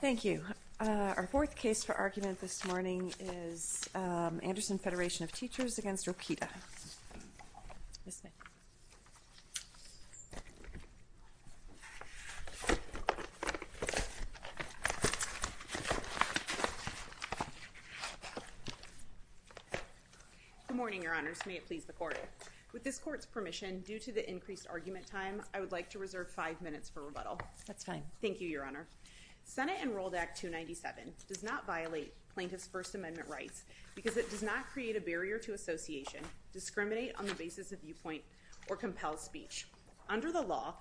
Thank you. Our fourth case for argument this morning is Anderson Federation of Teachers v. Rokita. Good morning, your honors. May it please the court. With this court's permission, due to the increased argument time, I would like to reserve five minutes for rebuttal. That's fine. Thank you, your honor. Senate Enrolled Act 297 does not violate plaintiffs' First Amendment rights because it does not create a barrier to association, discriminate on the basis of viewpoint, or compel speech. Under the law,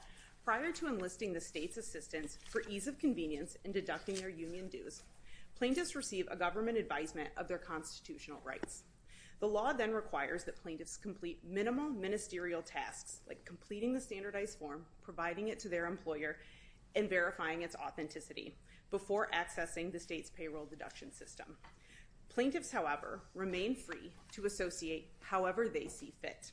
prior to enlisting the state's assistance for ease of convenience in deducting their union dues, plaintiffs receive a government advisement of their constitutional rights. The law then requires that plaintiffs complete minimal ministerial tasks, like completing the standardized form, providing it to their employer, and verifying its authenticity, before accessing the state's payroll deduction system. Plaintiffs, however, remain free to associate however they see fit.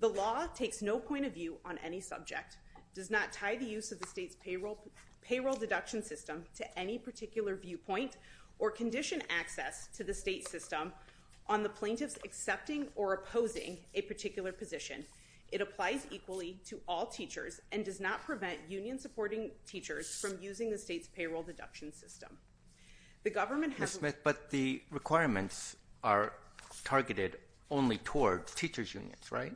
The law takes no point of view on any subject, does not tie the use of the state's payroll deduction system to any particular viewpoint, or condition access to the state system on the plaintiffs accepting or opposing a particular position, it applies equally to all teachers, and does not prevent union-supporting teachers from using the state's payroll deduction system. The government has- Ms. Smith, but the requirements are targeted only towards teachers' unions, right?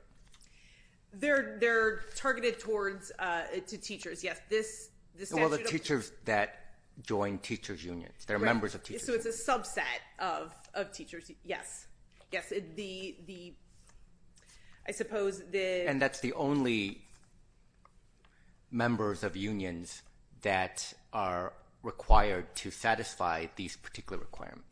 They're targeted towards, to teachers, yes. This statute of- Well, the teachers that join teachers' unions. They're members of teachers' unions. So it's a subset of teachers, yes. Yes, the, I suppose the- And that's the only members of unions that are required to satisfy these particular requirements.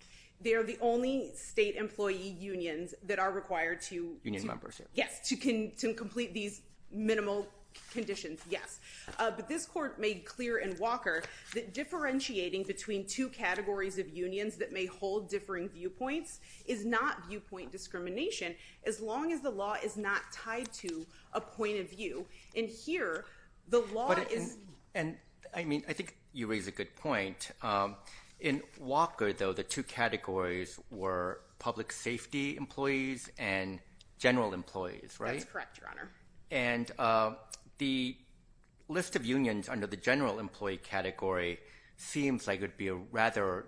They're the only state employee unions that are required to- Union members, yes. Yes, to complete these minimal conditions, yes. But this court made clear in Walker that the two categories of unions that may hold differing viewpoints is not viewpoint discrimination, as long as the law is not tied to a point of view. And here, the law is- And I mean, I think you raise a good point. In Walker, though, the two categories were public safety employees and general employees, right? That's correct, Your Honor. And the list of unions under the general employee category seems like it would be a rather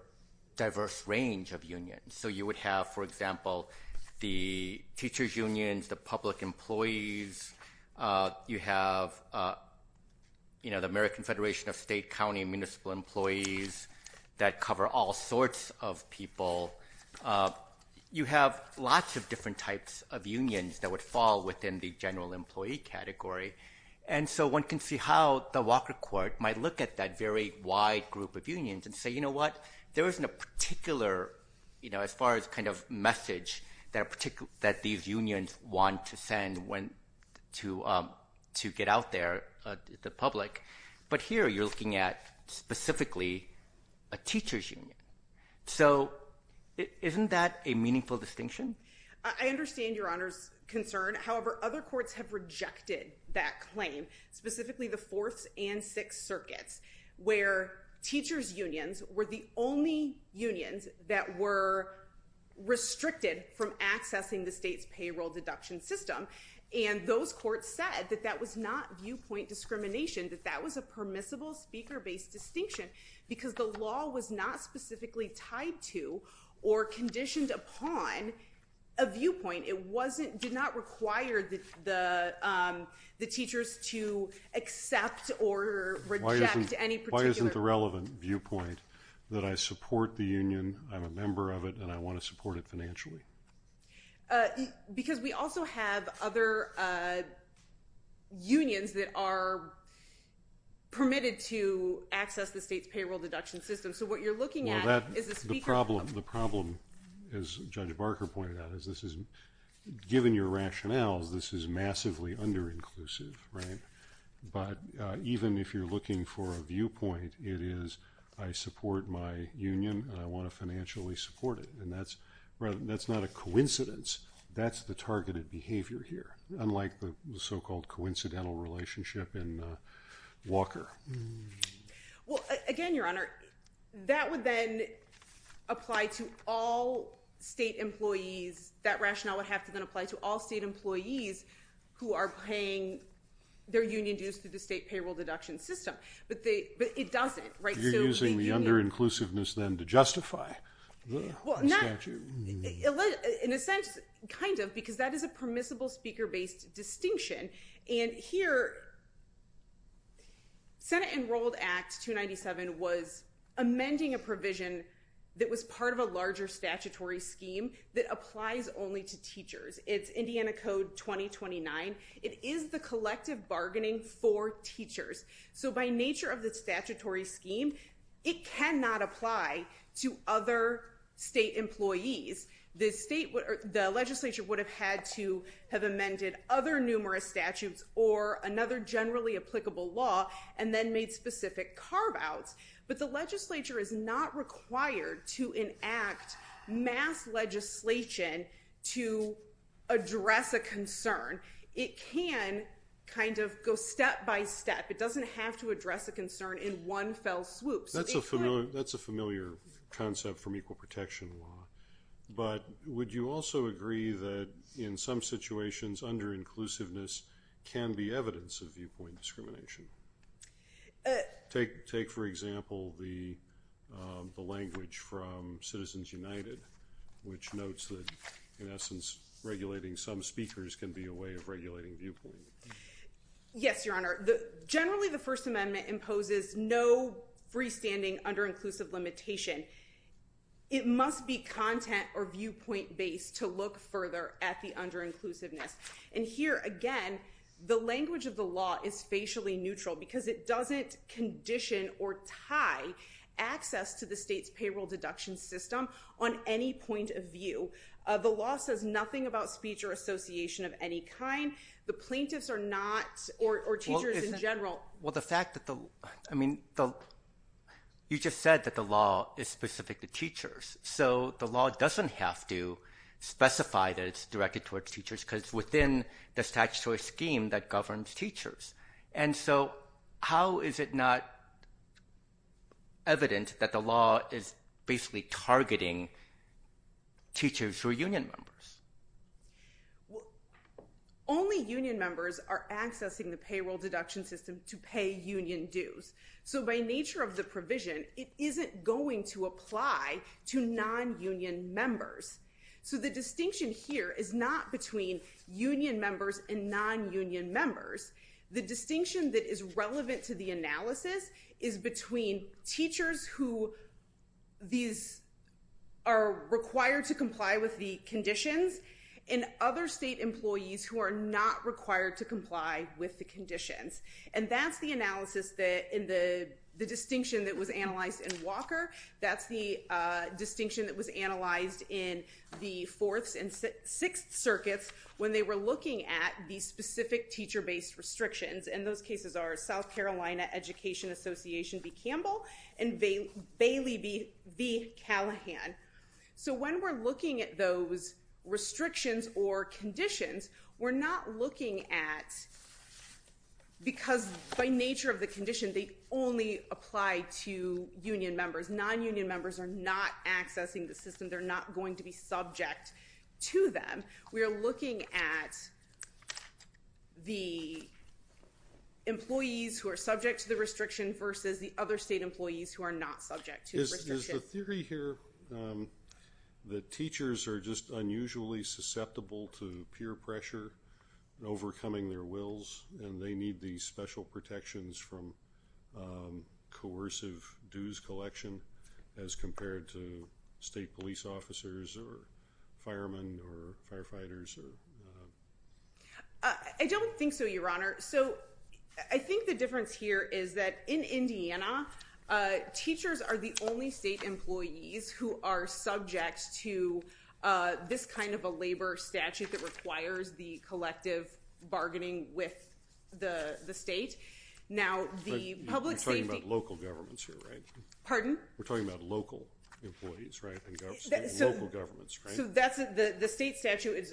diverse range of unions. So you would have, for example, the teachers' unions, the public employees. You have, you know, the American Federation of State, County, and Municipal Employees that cover all sorts of people. You have lots of different types of unions that would fall within the general employee category. And so one can see how the Walker court might look at that very wide group of unions and say, you know what, there isn't a particular, you know, as far as kind of message that these unions want to send to get out there to the public. But here, you're looking at specifically a teachers' union. So isn't that a meaningful distinction? I understand Your Honor's concern. However, other courts have rejected that claim, specifically the Fourth and Sixth Circuits, where teachers' unions were the only unions that were restricted from accessing the state's payroll deduction system. And those courts said that that was not viewpoint discrimination, that that was a permissible speaker-based distinction because the law was not specifically tied to or conditioned upon a viewpoint. It wasn't, did not require the teachers to accept or reject any particular- Why isn't the relevant viewpoint that I support the union, I'm a member of it, and I want to support it financially? Because we also have other unions that are permitted to access the state's payroll deduction system. So what you're looking at is a speaker- The problem, as Judge Barker pointed out, is this is, given your rationales, this is massively under-inclusive, right? But even if you're looking for a viewpoint, it is, I support my union and I want to financially support it. And that's not a coincidence, that's the targeted behavior here, unlike the so-called coincidental relationship in Walker. Well, again, Your Honor, that would then apply to all state employees, that rationale would have to then apply to all state employees who are paying their union dues through the state payroll deduction system. But it doesn't, right? So you're using the under-inclusiveness then to justify the statute? In a sense, kind of, because that is a permissible speaker-based distinction. And here, Senate Enrolled Act 297 was amending a provision that was part of a larger statutory scheme that applies only to teachers. It's Indiana Code 2029. It is the collective bargaining for teachers. So by nature of the statutory scheme, it cannot apply to other state employees. The legislature would have had to have amended other numerous statutes or another generally applicable law and then made specific carve-outs. But the legislature is not required to enact mass legislation to address a concern. It can kind of go step-by-step. It doesn't have to address a concern in one fell swoop. That's a familiar concept from equal protection law. But would you also agree that in some situations under-inclusiveness can be evidence of viewpoint discrimination? Take, for example, the language from Citizens United, which notes that, in essence, regulating some speakers can be a way of regulating viewpoint. Yes, Your Honor. Generally, the First Amendment imposes no freestanding under-inclusive limitation. It must be content or viewpoint-based to look further at the under-inclusiveness. And here, again, the language of the law is facially neutral because it doesn't condition or tie access to the state's payroll deduction system on any point of view. The law says nothing about speech or association of any kind. The plaintiffs are not, or teachers in general... Well, the fact that the... I mean, you just said that the law is specific to teachers. So the law doesn't have to specify that it's directed towards teachers because within the statutory scheme that governs teachers. And so how is it not evident that the law is basically targeting teachers who are union members? Only union members are accessing the payroll deduction system to pay union dues. So by nature of the provision, it isn't going to apply to non-union members. So the distinction here is not between union members and non-union members. The distinction that is relevant to the analysis is between teachers who are required to comply with the conditions and other state employees who are not required to comply with the conditions. And that's the analysis that... And the distinction that was analyzed in Walker, that's the distinction that was analyzed in the Fourth and Sixth Circuits when they were looking at the specific teacher-based restrictions. And those cases are South Carolina Education Association v. Campbell and Bailey v. Callahan. So when we're looking at those restrictions or conditions, we're not looking at... Because by nature of the condition, they only apply to union members who are accessing the system. They're not going to be subject to them. We are looking at the employees who are subject to the restriction versus the other state employees who are not subject to the restriction. Is the theory here that teachers are just unusually susceptible to peer pressure in overcoming their wills, and they need these special protections from coercive dues collection as compared to state police officers or firemen or firefighters? I don't think so, Your Honor. So I think the difference here is that in Indiana, teachers are the only state employees who are subject to this kind of a labor statute that requires the collective bargaining with the state. Now, the public safety... We're talking about local employees, right? And local governments, right? So the state statute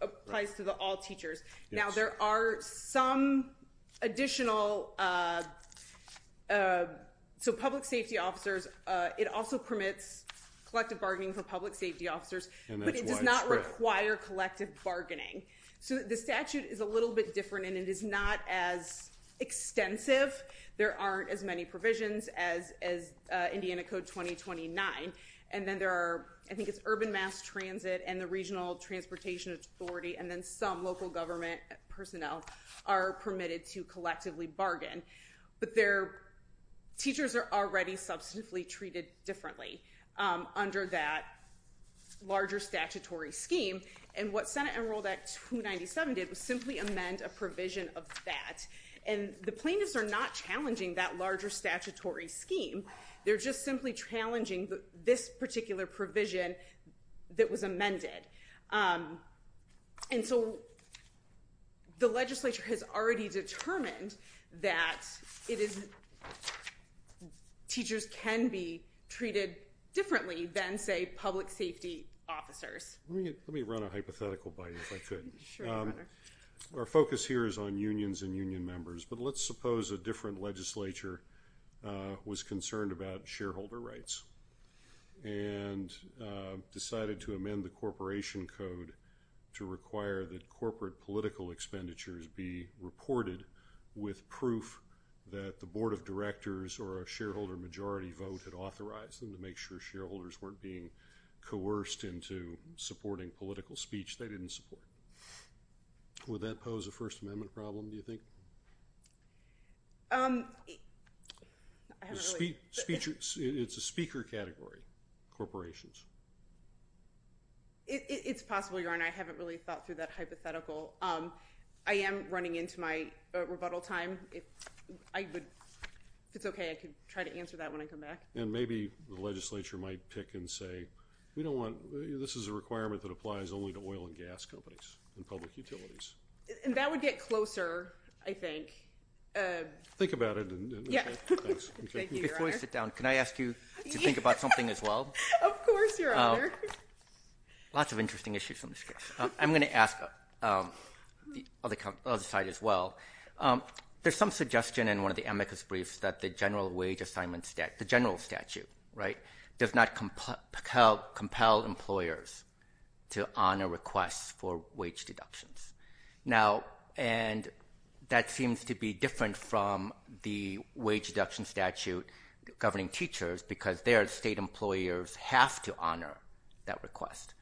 applies to all teachers. Now, there are some additional... So public safety officers, it also permits collective bargaining for public safety officers, but it does not require collective bargaining. So the statute is a little bit different and it is not as extensive. There aren't as many provisions as Indiana Code 2029. And then there are, I think it's Urban Mass Transit and the Regional Transportation Authority, and then some local government personnel are permitted to collectively bargain. But teachers are already substantively treated differently under that larger statutory scheme. And what of that? And the plaintiffs are not challenging that larger statutory scheme. They're just simply challenging this particular provision that was amended. And so the legislature has already determined that it is... Teachers can be treated differently than, say, public safety officers. Let me run a hypothetical by you, if I could. Sure. Our focus here is on unions and union members, but let's suppose a different legislature was concerned about shareholder rights and decided to amend the Corporation Code to require that corporate political expenditures be reported with proof that the board of directors or a shareholder majority vote had authorized them to make sure shareholders weren't being coerced into supporting political speech they didn't support. Would that pose a First Amendment problem, do you think? I haven't really... It's a speaker category, corporations. It's possible, Your Honor. I haven't really thought through that hypothetical. I am running into my rebuttal time. If it's okay, I could try to answer that when I come back. And maybe the legislature might pick and say, this is a requirement that applies only to oil and gas companies and public utilities. That would get closer, I think. Think about it. Thank you, Your Honor. Before I sit down, can I ask you to think about something as well? Of course, Your Honor. Lots of interesting issues in this case. I'm going to ask the other side as well. There's some suggestion in one of the amicus briefs that the general wage assignments, the general statute, does not compel employers to honor requests for wage deductions. That seems to be different from the wage deduction statute governing teachers, because there state employers have to honor that request.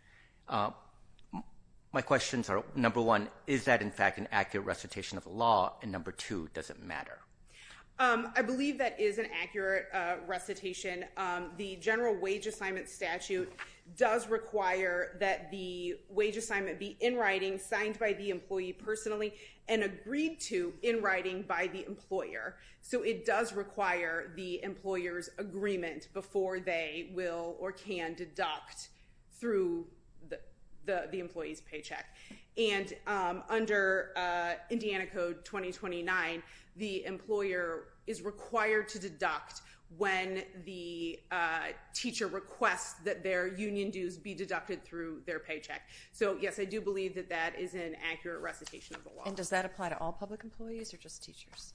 My questions are, number one, is that in fact an accurate recitation of the law, and number two, does it matter? I believe that is an accurate recitation. The general wage assignment statute does require that the wage assignment be in writing, signed by the employee personally, and agreed to in writing by the employer. So it does require the employer's agreement before they will or can deduct through the employee's paycheck. And under Indiana Code 2029, the employer is required to deduct when the teacher requests that their union dues be deducted through their paycheck. So yes, I do believe that that is an accurate recitation of the law. And does that apply to all public employees or just teachers?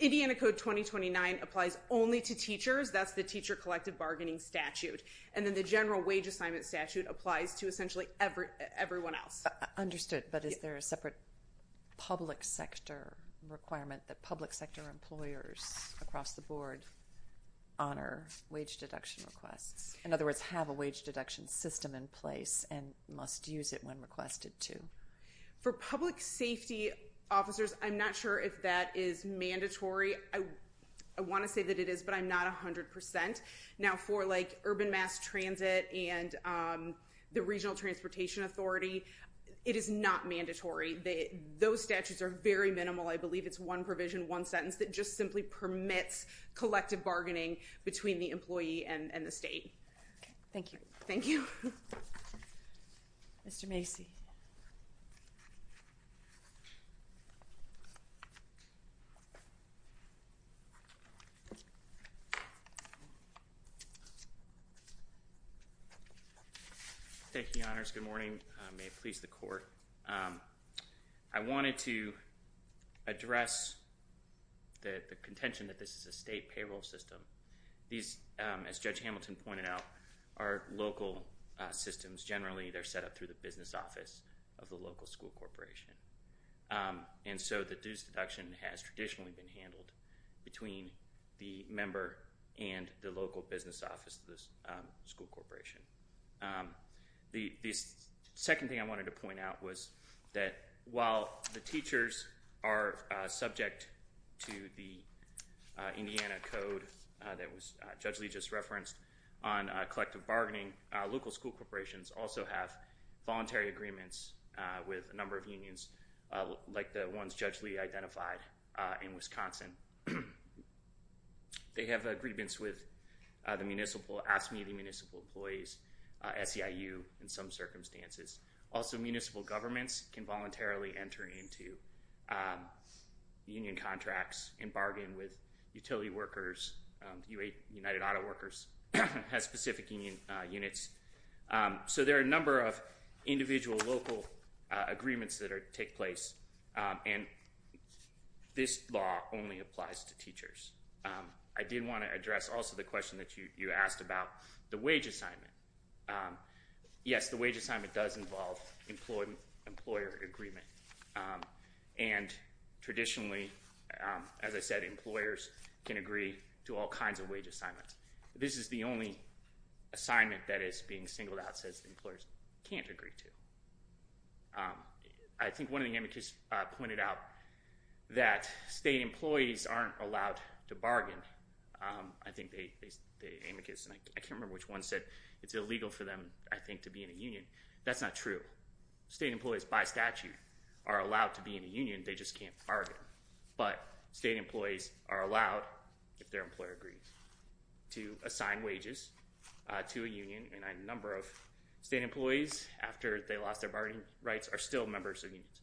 Indiana Code 2029 applies only to teachers. That's the teacher collective bargaining statute. And then the general wage assignment statute applies to essentially everyone else. Understood. But is there a separate public sector requirement that public sector employers across the board honor wage deduction requests? In other words, have a wage deduction system in place and must use it when requested to? For public safety officers, I'm not sure if that is mandatory. I want to say that it is, but I'm not 100%. Now for like urban mass transit and the regional transportation authority, it is not mandatory. Those statutes are very minimal. I believe it's one provision, one sentence that just simply permits collective bargaining between the employee and the state. Thank you. Thank you. Mr. Macy. Thank you, Your Honors. Good morning. May it please the court. I wanted to address the contention that this is a state payroll system. These, as Judge Hamilton pointed out, are local systems. Generally, they're set up through the business office of the local school corporation. And so the dues deduction has traditionally been handled between the member and the local business office of the school corporation. The second thing I wanted to point out was that while the teachers are subject to the Indiana Code that Judge Lee just referenced on collective bargaining, local school corporations also have voluntary agreements with a number of unions like the ones Judge Lee identified in Wisconsin. They have agreements with the municipal, AFSCME, the municipal employees, SEIU in some circumstances. Also municipal governments can voluntarily enter into union contracts and bargain with So there are a number of individual local agreements that take place, and this law only applies to teachers. I did want to address also the question that you asked about the wage assignment. Yes, the wage assignment does involve employer agreement. And traditionally, as I said, employers can agree to all kinds of wage assignments. This is the only assignment that is being singled out that employers can't agree to. I think one of the amicus pointed out that state employees aren't allowed to bargain. I think the amicus, and I can't remember which one said it's illegal for them, I think, to be in a union. That's not true. State employees by statute are allowed to be in a union, they just can't bargain. But state employees are allowed, if their employer agrees, to assign wages to a union, and a number of state employees, after they lost their bargaining rights, are still members of unions.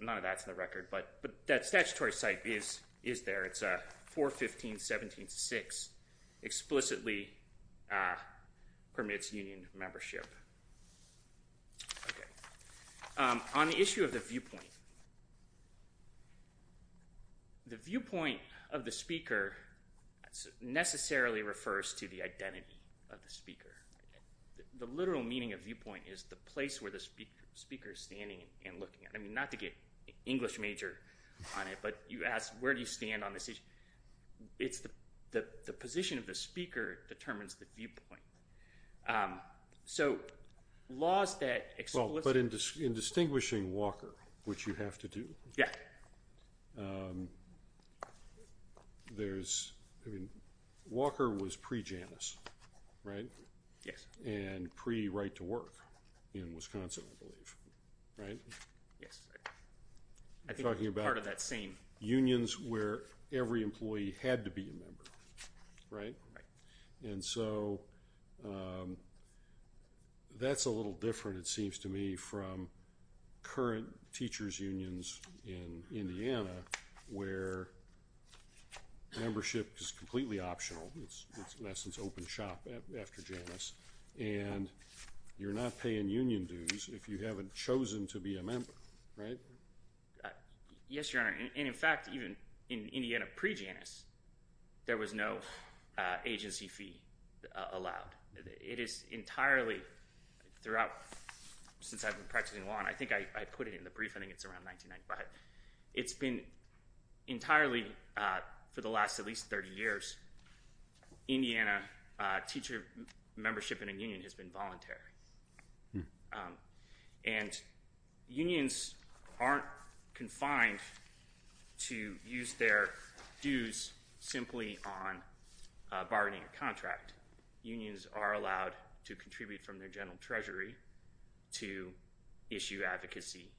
None of that's in the record, but that statutory site is there. It's 415.17.6 explicitly permits union membership. Okay. On the issue of the viewpoint, the viewpoint of the speaker necessarily refers to the identity of the speaker. The literal meaning of viewpoint is the place where the speaker is standing and looking at. I mean, not to get English major on it, but you ask, where do you stand on this issue? The position of the speaker determines the viewpoint. So, laws that explicitly... Well, but in distinguishing Walker, which you have to do, Walker was pre-Janus, right? Yes. And pre-right-to-work in Wisconsin, I believe, right? Yes. I think it's part of that same... And so, that's a little different, it seems to me, from current teachers' unions in Indiana, where membership is completely optional. It's, in essence, open shop after Janus. And you're not paying union dues if you haven't chosen to be a member, right? Yes, Your Honor. And in fact, even in Indiana pre-Janus, there was no agency fee allowed. It is entirely throughout... Since I've been practicing law, and I think I put it in the brief, I think it's around 1995, it's been entirely, for the last at least 30 years, Indiana teacher membership in a union has been voluntary. And unions aren't confined to use their dues simply on bargaining a contract. Unions are allowed to contribute from their general treasury to issue advocacy.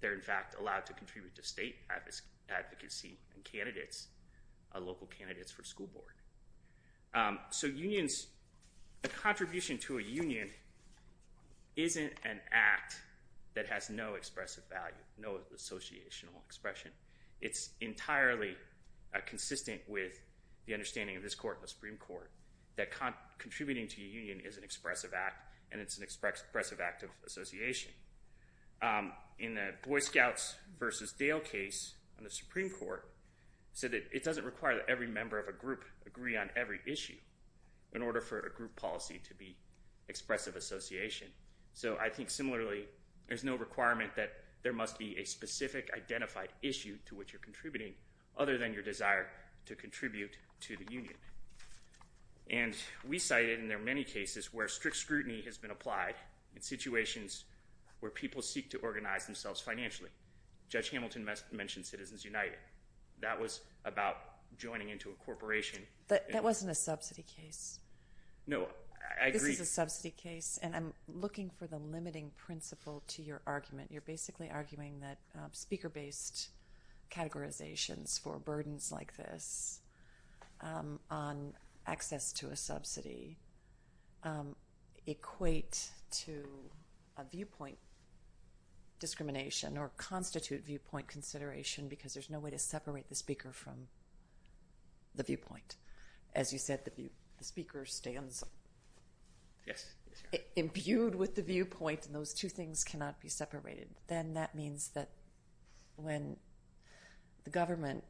They're, in fact, allowed to contribute to state advocacy and candidates, local candidates for school board. So unions... A contribution to a union isn't an act that has no expressive value, no associational expression. It's entirely consistent with the understanding of this court and the Supreme Court that contributing to a union is an expressive act, and it's an expressive act of association. In the Boy Scouts versus Dale case on the Supreme Court, it said that it doesn't require that every member of a group agree on every issue in order for a group policy to be expressive association. So I think, similarly, there's no requirement that there must be a specific identified issue to which you're contributing other than your desire to contribute to the union. And we cited in there many cases where strict scrutiny has been applied in situations where people seek to organize themselves financially. Judge Hamilton mentioned Citizens United. That was about joining into a corporation. That wasn't a subsidy case. No, I agree. This is a subsidy case, and I'm looking for the limiting principle to your argument. You're basically arguing that speaker-based categorizations for burdens like this on access to a subsidy equate to a viewpoint discrimination or constitute viewpoint consideration because there's no way to separate the speaker from the viewpoint. As you said, the speaker stands imbued with the viewpoint, and those two things cannot be separated. Then that means that when the government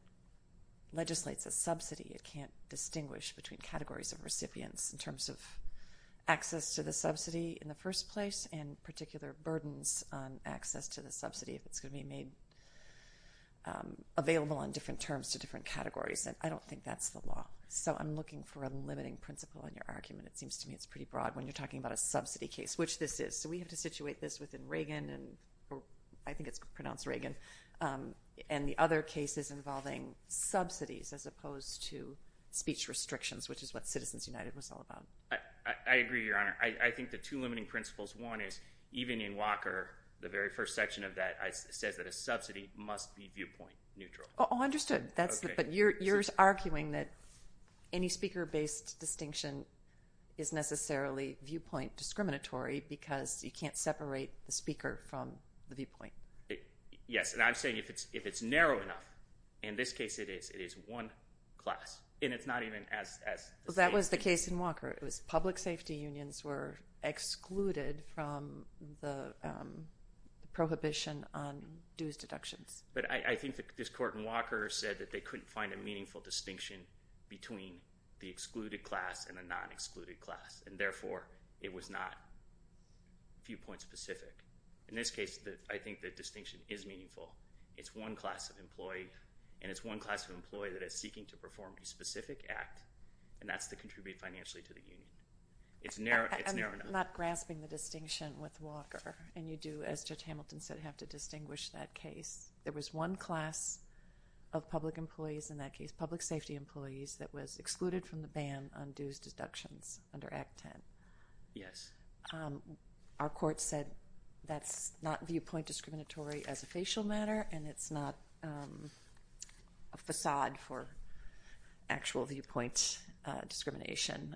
legislates a subsidy, it can't distinguish between categories of recipients in terms of access to the subsidy in the first place and particular burdens on access to the subsidy if it's going to be made available on different terms to different categories, and I don't think that's the law. So I'm looking for a limiting principle in your argument. It seems to me it's pretty broad when you're talking about a subsidy case, which this is. So we have to situate this within Reagan, or I think it's pronounced Reagan, and the other cases involving subsidies as opposed to speech restrictions, which is what Citizens United was all about. I agree, Your Honor. I think the two limiting principles, one is even in Walker, the very first section of that says that a subsidy must be viewpoint neutral. Oh, understood. But you're arguing that any speaker-based distinction is necessarily viewpoint discriminatory because you can't separate the speaker from the viewpoint. Yes, and I'm saying if it's narrow enough, in this case it is, it is one class, and it's not even as the same. That was the case in Walker. It was public safety unions were excluded from the prohibition on dues deductions. But I think this court in Walker said that they couldn't find a meaningful distinction between the excluded class and the non-excluded class, and therefore it was not viewpoint specific. In this case, I think the distinction is meaningful. It's one class of employee, and it's one class of employee that is seeking to perform a specific act, and that's to contribute financially to the union. It's narrow enough. I'm not grasping the distinction with Walker, and you do, as Judge Hamilton said, have to distinguish that case. There was one class of public employees in that case, public safety employees, that was excluded from the ban on dues deductions under Act 10. Yes. Our court said that's not viewpoint discriminatory as a facial matter, and it's not a facade for actual viewpoint discrimination.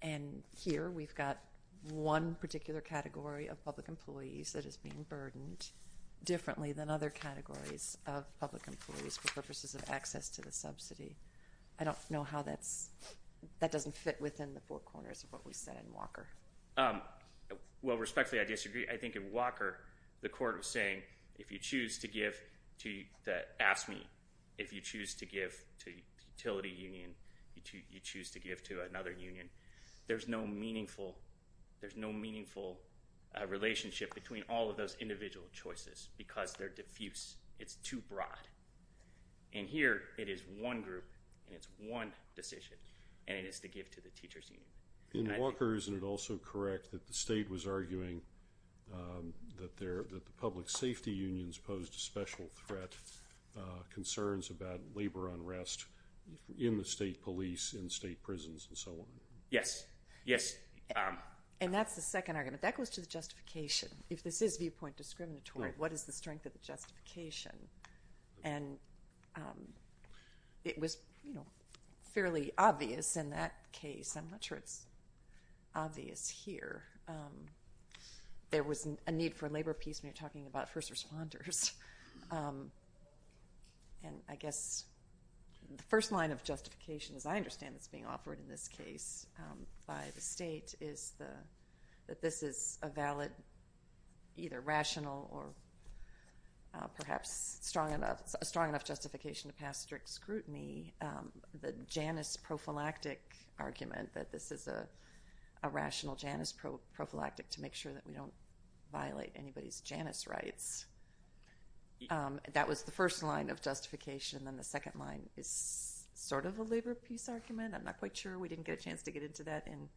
And here we've got one particular category of public employees that is being burdened differently than other categories of public employees for purposes of access to the subsidy. I don't know how that doesn't fit within the four corners of what we said in Walker. Well, respectfully, I disagree. I think in Walker the court was saying if you choose to give to the AFSCME, if you choose to give to the utility union, if you choose to give to another union, there's no meaningful relationship between all of those individual choices because they're diffuse. It's too broad. And here it is one group and it's one decision, and it is to give to the teachers union. In Walker, isn't it also correct that the state was arguing that the public safety unions posed a special threat, concerns about labor unrest in the state police, in state prisons, and so on? Yes. Yes. And that's the second argument. That goes to the justification. If this is viewpoint discriminatory, what is the strength of the justification? And it was fairly obvious in that case. I'm not sure it's obvious here. There was a need for a labor piece when you're talking about first responders. And I guess the first line of justification, as I understand, that's being offered in this case by the state is that this is a valid, either rational or perhaps a strong enough justification to pass strict scrutiny. The Janus prophylactic argument that this is a rational Janus prophylactic to make sure that we don't violate anybody's Janus rights, that was the first line of justification. Then the second line is sort of a labor piece argument. I'm not quite sure we didn't get a chance to get into that in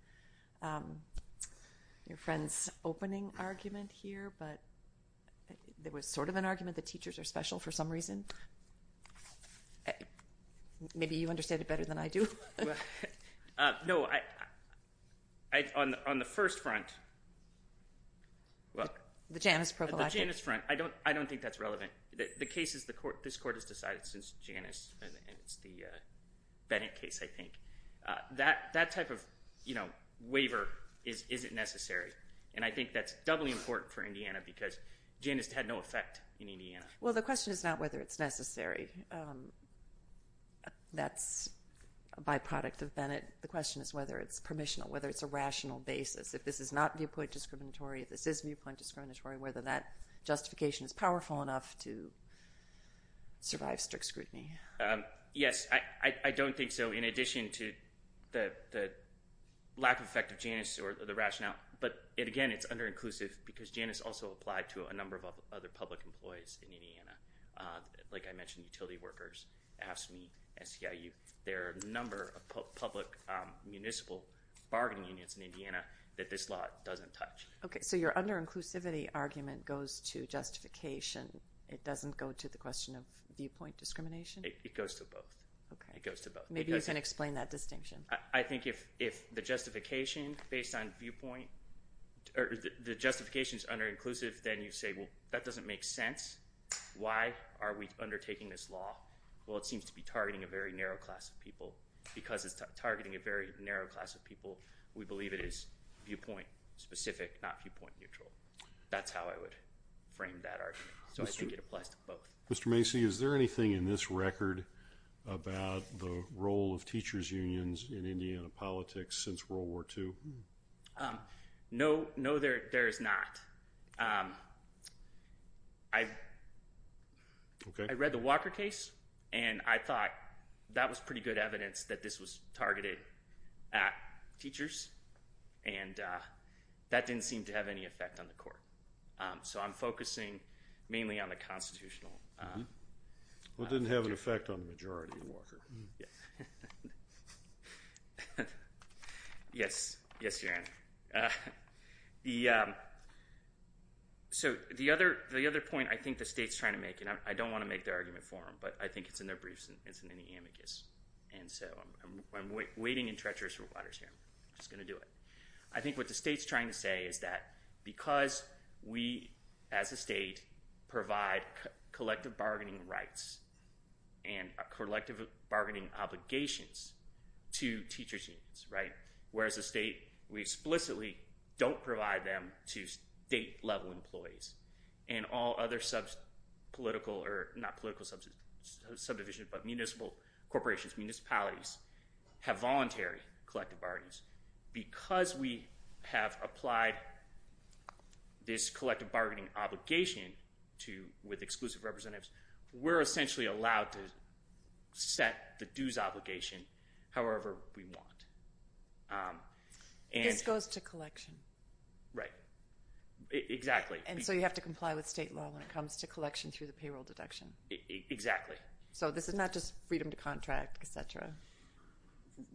your friend's opening argument here, but there was sort of an argument that teachers are special for some reason. Maybe you understand it better than I do. No. On the first front... The Janus prophylactic. The Janus front. I don't think that's relevant. The case is this court has decided since Janus, and it's the Bennett case, I think. That type of waiver isn't necessary. And I think that's doubly important for Indiana because Janus had no effect in Indiana. Well, the question is not whether it's necessary. That's a byproduct of Bennett. The question is whether it's permissional, whether it's a rational basis. If this is not viewpoint discriminatory, if this is viewpoint discriminatory, whether that justification is powerful enough to survive strict scrutiny. Yes, I don't think so. In addition to the lack of effect of Janus or the rationale, but again, it's under-inclusive because Janus also applied to a number of other public employees in Indiana. Like I mentioned, utility workers, AFSCME, SEIU. There are a number of public municipal bargaining unions in Indiana that this law doesn't touch. Okay, so your under-inclusivity argument goes to justification. It doesn't go to the question of viewpoint discrimination? It goes to both. Maybe you can explain that distinction. I think if the justification is under-inclusive, then you say, well, that doesn't make sense. Why are we undertaking this law? Well, it seems to be targeting a very narrow class of people. Because it's targeting a very narrow class of people, we believe it is viewpoint-specific, not viewpoint-neutral. That's how I would frame that argument. So I think it applies to both. Mr. Macy, is there anything in this record about the role of teachers' unions in Indiana politics since World War II? No, there is not. I read the Walker case, and I thought that was pretty good evidence that this was targeted at teachers, and that didn't seem to have any effect on the court. So I'm focusing mainly on the constitutional. Well, it didn't have an effect on the majority of Walker. Yes, yes, Your Honor. So the other point I think the state's trying to make, and I don't want to make the argument for them, but I think it's in their briefs and it's in the amicus. So I'm waiting in treacherous waters here. I'm just going to do it. I think what the state's trying to say is that because we, as a state, provide collective bargaining rights and collective bargaining obligations to teachers' unions, whereas the state, we explicitly don't provide them to state-level employees and all other sub-political or not political subdivisions but municipal corporations, municipalities, have voluntary collective bargaining. Because we have applied this collective bargaining obligation with exclusive representatives, we're essentially allowed to set the dues obligation however we want. This goes to collection. Right, exactly. And so you have to comply with state law when it comes to collection through the payroll deduction. Exactly. So this is not just freedom to contract, et cetera.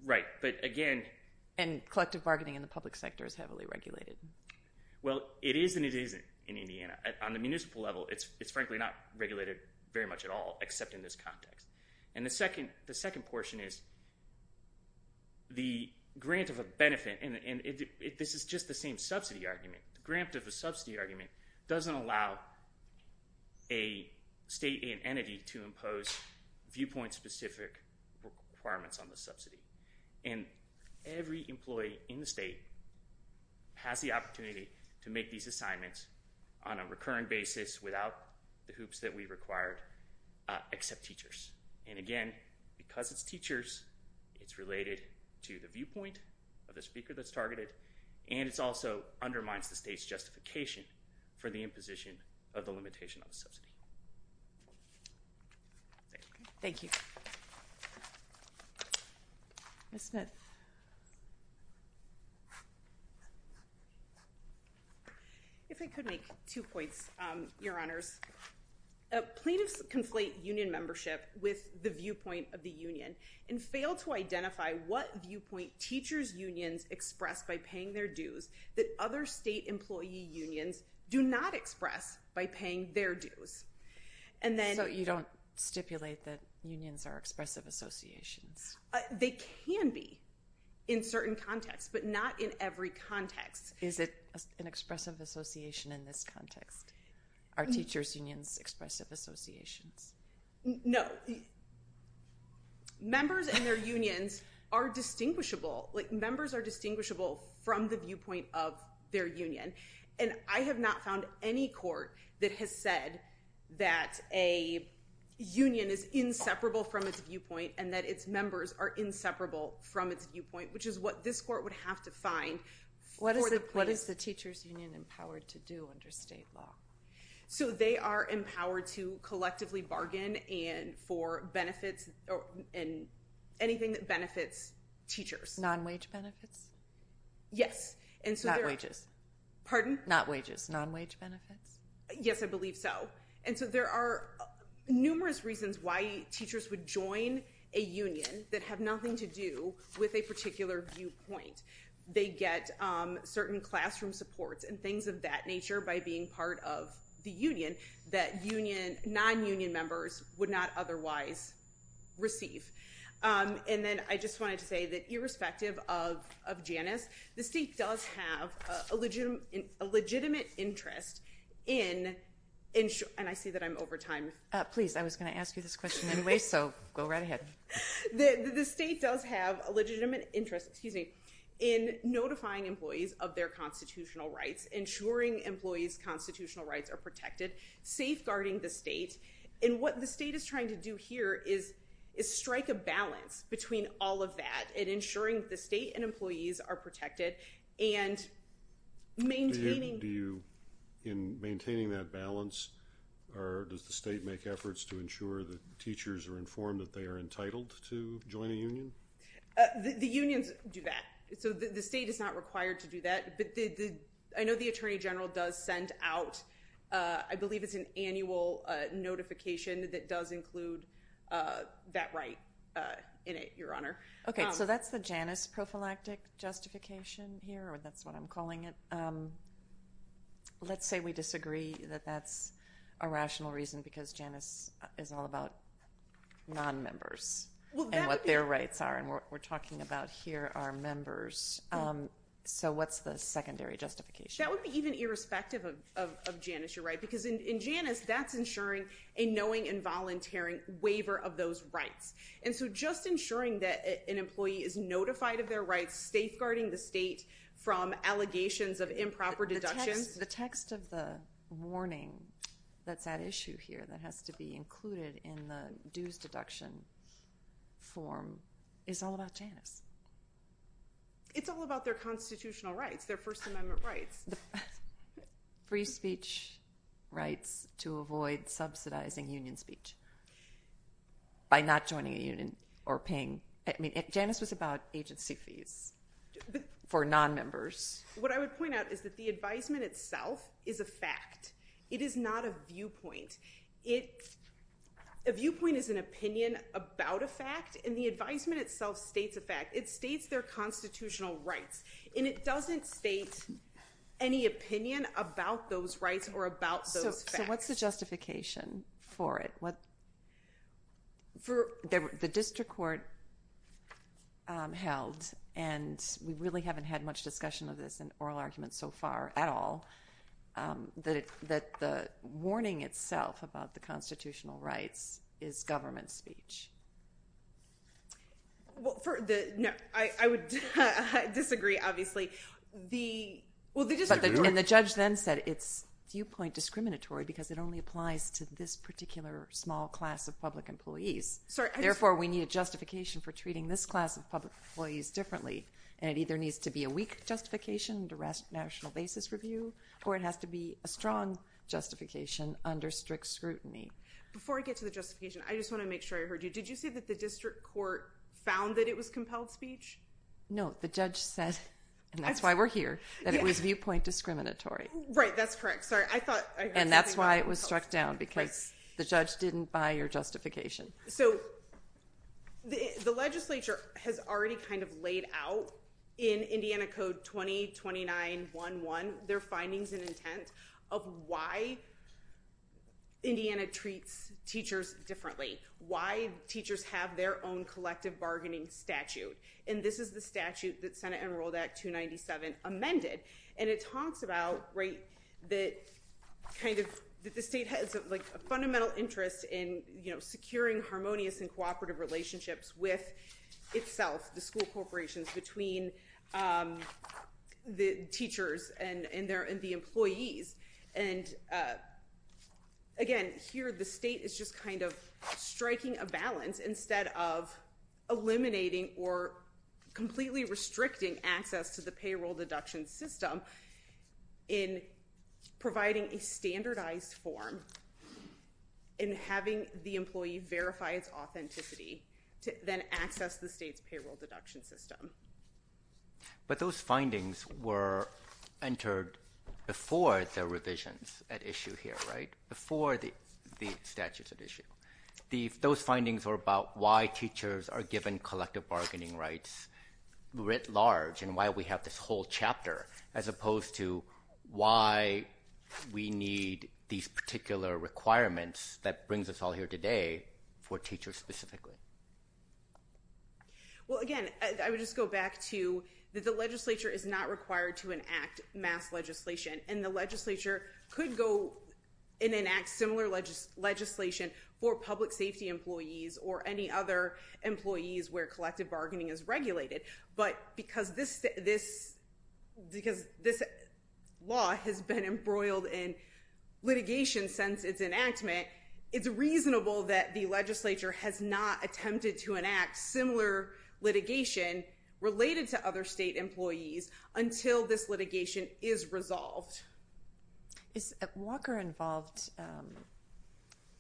Right, but again. And collective bargaining in the public sector is heavily regulated. Well, it is and it isn't in Indiana. On the municipal level, it's frankly not regulated very much at all except in this context. And the second portion is the grant of a benefit, and this is just the same subsidy argument. The grant of a subsidy argument doesn't allow a state entity to impose viewpoint-specific requirements on the subsidy. And every employee in the state has the opportunity to make these assignments on a recurring basis without the hoops that we required except teachers. And again, because it's teachers, it's related to the viewpoint of the speaker that's targeted, and it also undermines the state's justification for the imposition of the limitation on the subsidy. Thank you. Thank you. Ms. Smith. If I could make two points, Your Honors. Plaintiffs conflate union membership with the viewpoint of the union and fail to identify what viewpoint teachers' unions express by paying their dues that other state employee unions do not express by paying their dues. So you don't stipulate that unions are expressive associations? They can be in certain contexts, but not in every context. Is it an expressive association in this context? Are teachers' unions expressive associations? No. Members and their unions are distinguishable. Members are distinguishable from the viewpoint of their union. And I have not found any court that has said that a union is inseparable from its viewpoint and that its members are inseparable from its viewpoint, which is what this court would have to find for the plaintiffs. What is the teachers' union empowered to do under state law? So they are empowered to collectively bargain for benefits and anything that benefits teachers. Non-wage benefits? Yes. Not wages. Pardon? Not wages. Non-wage benefits? Yes, I believe so. And so there are numerous reasons why teachers would join a union that have nothing to do with a particular viewpoint. They get certain classroom supports and things of that nature by being part of the union that non-union members would not otherwise receive. And then I just wanted to say that irrespective of Janice, the state does have a legitimate interest in ensuring – and I see that I'm over time. Please, I was going to ask you this question anyway, so go right ahead. The state does have a legitimate interest in notifying employees of their constitutional rights, ensuring employees' constitutional rights are protected, safeguarding the state. And what the state is trying to do here is strike a balance between all of that and ensuring the state and employees are protected and maintaining – In maintaining that balance, does the state make efforts to ensure that teachers are informed that they are entitled to join a union? The unions do that. So the state is not required to do that, but I know the Attorney General does send out – I believe it's an annual notification that does include that right in it, Your Honor. Okay, so that's the Janice prophylactic justification here, or that's what I'm calling it. Let's say we disagree that that's a rational reason because Janice is all about non-members and what their rights are. And what we're talking about here are members. So what's the secondary justification? That would be even irrespective of Janice, Your Honor, because in Janice, that's ensuring a knowing and volunteering waiver of those rights. And so just ensuring that an employee is notified of their rights, safeguarding the state from allegations of improper deductions. The text of the warning that's at issue here that has to be included in the dues deduction form is all about Janice. It's all about their constitutional rights, their First Amendment rights. Free speech rights to avoid subsidizing union speech by not joining a union or paying. Janice was about agency fees for non-members. What I would point out is that the advisement itself is a fact. It is not a viewpoint. A viewpoint is an opinion about a fact, and the advisement itself states a fact. It states their constitutional rights, and it doesn't state any opinion about those rights or about those facts. So what's the justification for it? The district court held, and we really haven't had much discussion of this in oral arguments so far at all, that the warning itself about the constitutional rights is government speech. I would disagree, obviously. And the judge then said it's viewpoint discriminatory because it only applies to this particular small class of public employees. Therefore, we need a justification for treating this class of public employees differently, and it either needs to be a weak justification under national basis review or it has to be a strong justification under strict scrutiny. Before I get to the justification, I just want to make sure I heard you. Did you say that the district court found that it was compelled speech? No. The judge said, and that's why we're here, that it was viewpoint discriminatory. Right, that's correct. Sorry, I thought I heard something about it. And that's why it was struck down, because the judge didn't buy your justification. So the legislature has already kind of laid out in Indiana Code 2029.1.1 their findings and intent of why Indiana treats teachers differently, why teachers have their own collective bargaining statute. And this is the statute that Senate Enrolled Act 297 amended, and it talks about that the state has a fundamental interest in securing harmonious and cooperative relationships with itself, the school corporations, between the teachers and the employees. And, again, here the state is just kind of striking a balance instead of eliminating or completely restricting access to the payroll deduction system in providing a standardized form and having the employee verify its authenticity to then access the state's payroll deduction system. But those findings were entered before the revisions at issue here, right, before the statutes at issue. Those findings were about why teachers are given collective bargaining rights writ large and why we have this whole chapter, as opposed to why we need these particular requirements that brings us all here today for teachers specifically. Well, again, I would just go back to that the legislature is not required to enact mass legislation, and the legislature could go and enact similar legislation for public safety employees or any other employees where collective bargaining is regulated. But because this law has been embroiled in litigation since its enactment, it's reasonable that the legislature has not attempted to enact similar litigation related to other state employees until this litigation is resolved. Walker involved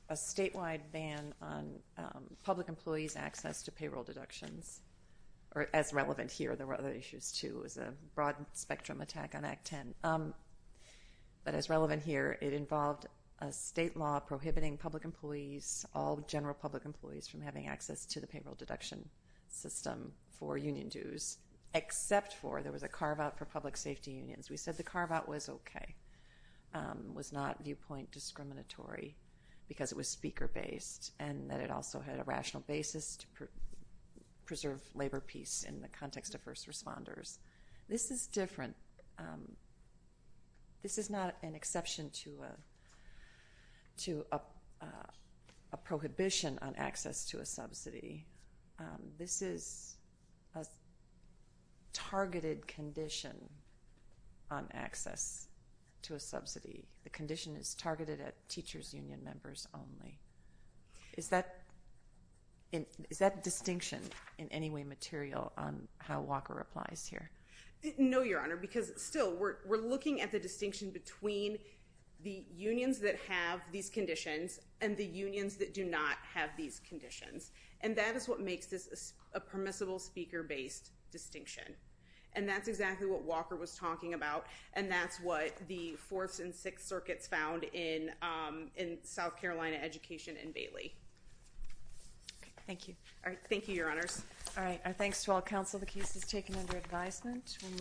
a statewide ban on public employees' access to payroll deductions as relevant here. There were other issues, too. It was a broad-spectrum attack on Act 10. But as relevant here, it involved a state law prohibiting public employees, all general public employees, from having access to the payroll deduction system for union dues except for there was a carve-out for public safety unions. We said the carve-out was okay, was not viewpoint discriminatory because it was speaker-based and that it also had a rational basis to preserve labor peace in the context of first responders. This is different. This is not an exception to a prohibition on access to a subsidy. This is a targeted condition on access to a subsidy. The condition is targeted at teachers union members only. Is that distinction in any way material on how Walker applies here? No, Your Honor, because still we're looking at the distinction between the unions that have these conditions and the unions that do not have these conditions. And that is what makes this a permissible speaker-based distinction. And that's exactly what Walker was talking about, and that's what the Fourth and Sixth Circuits found in South Carolina education in Bailey. Thank you. Thank you, Your Honors. All right, our thanks to all counsel. The case is taken under advisement.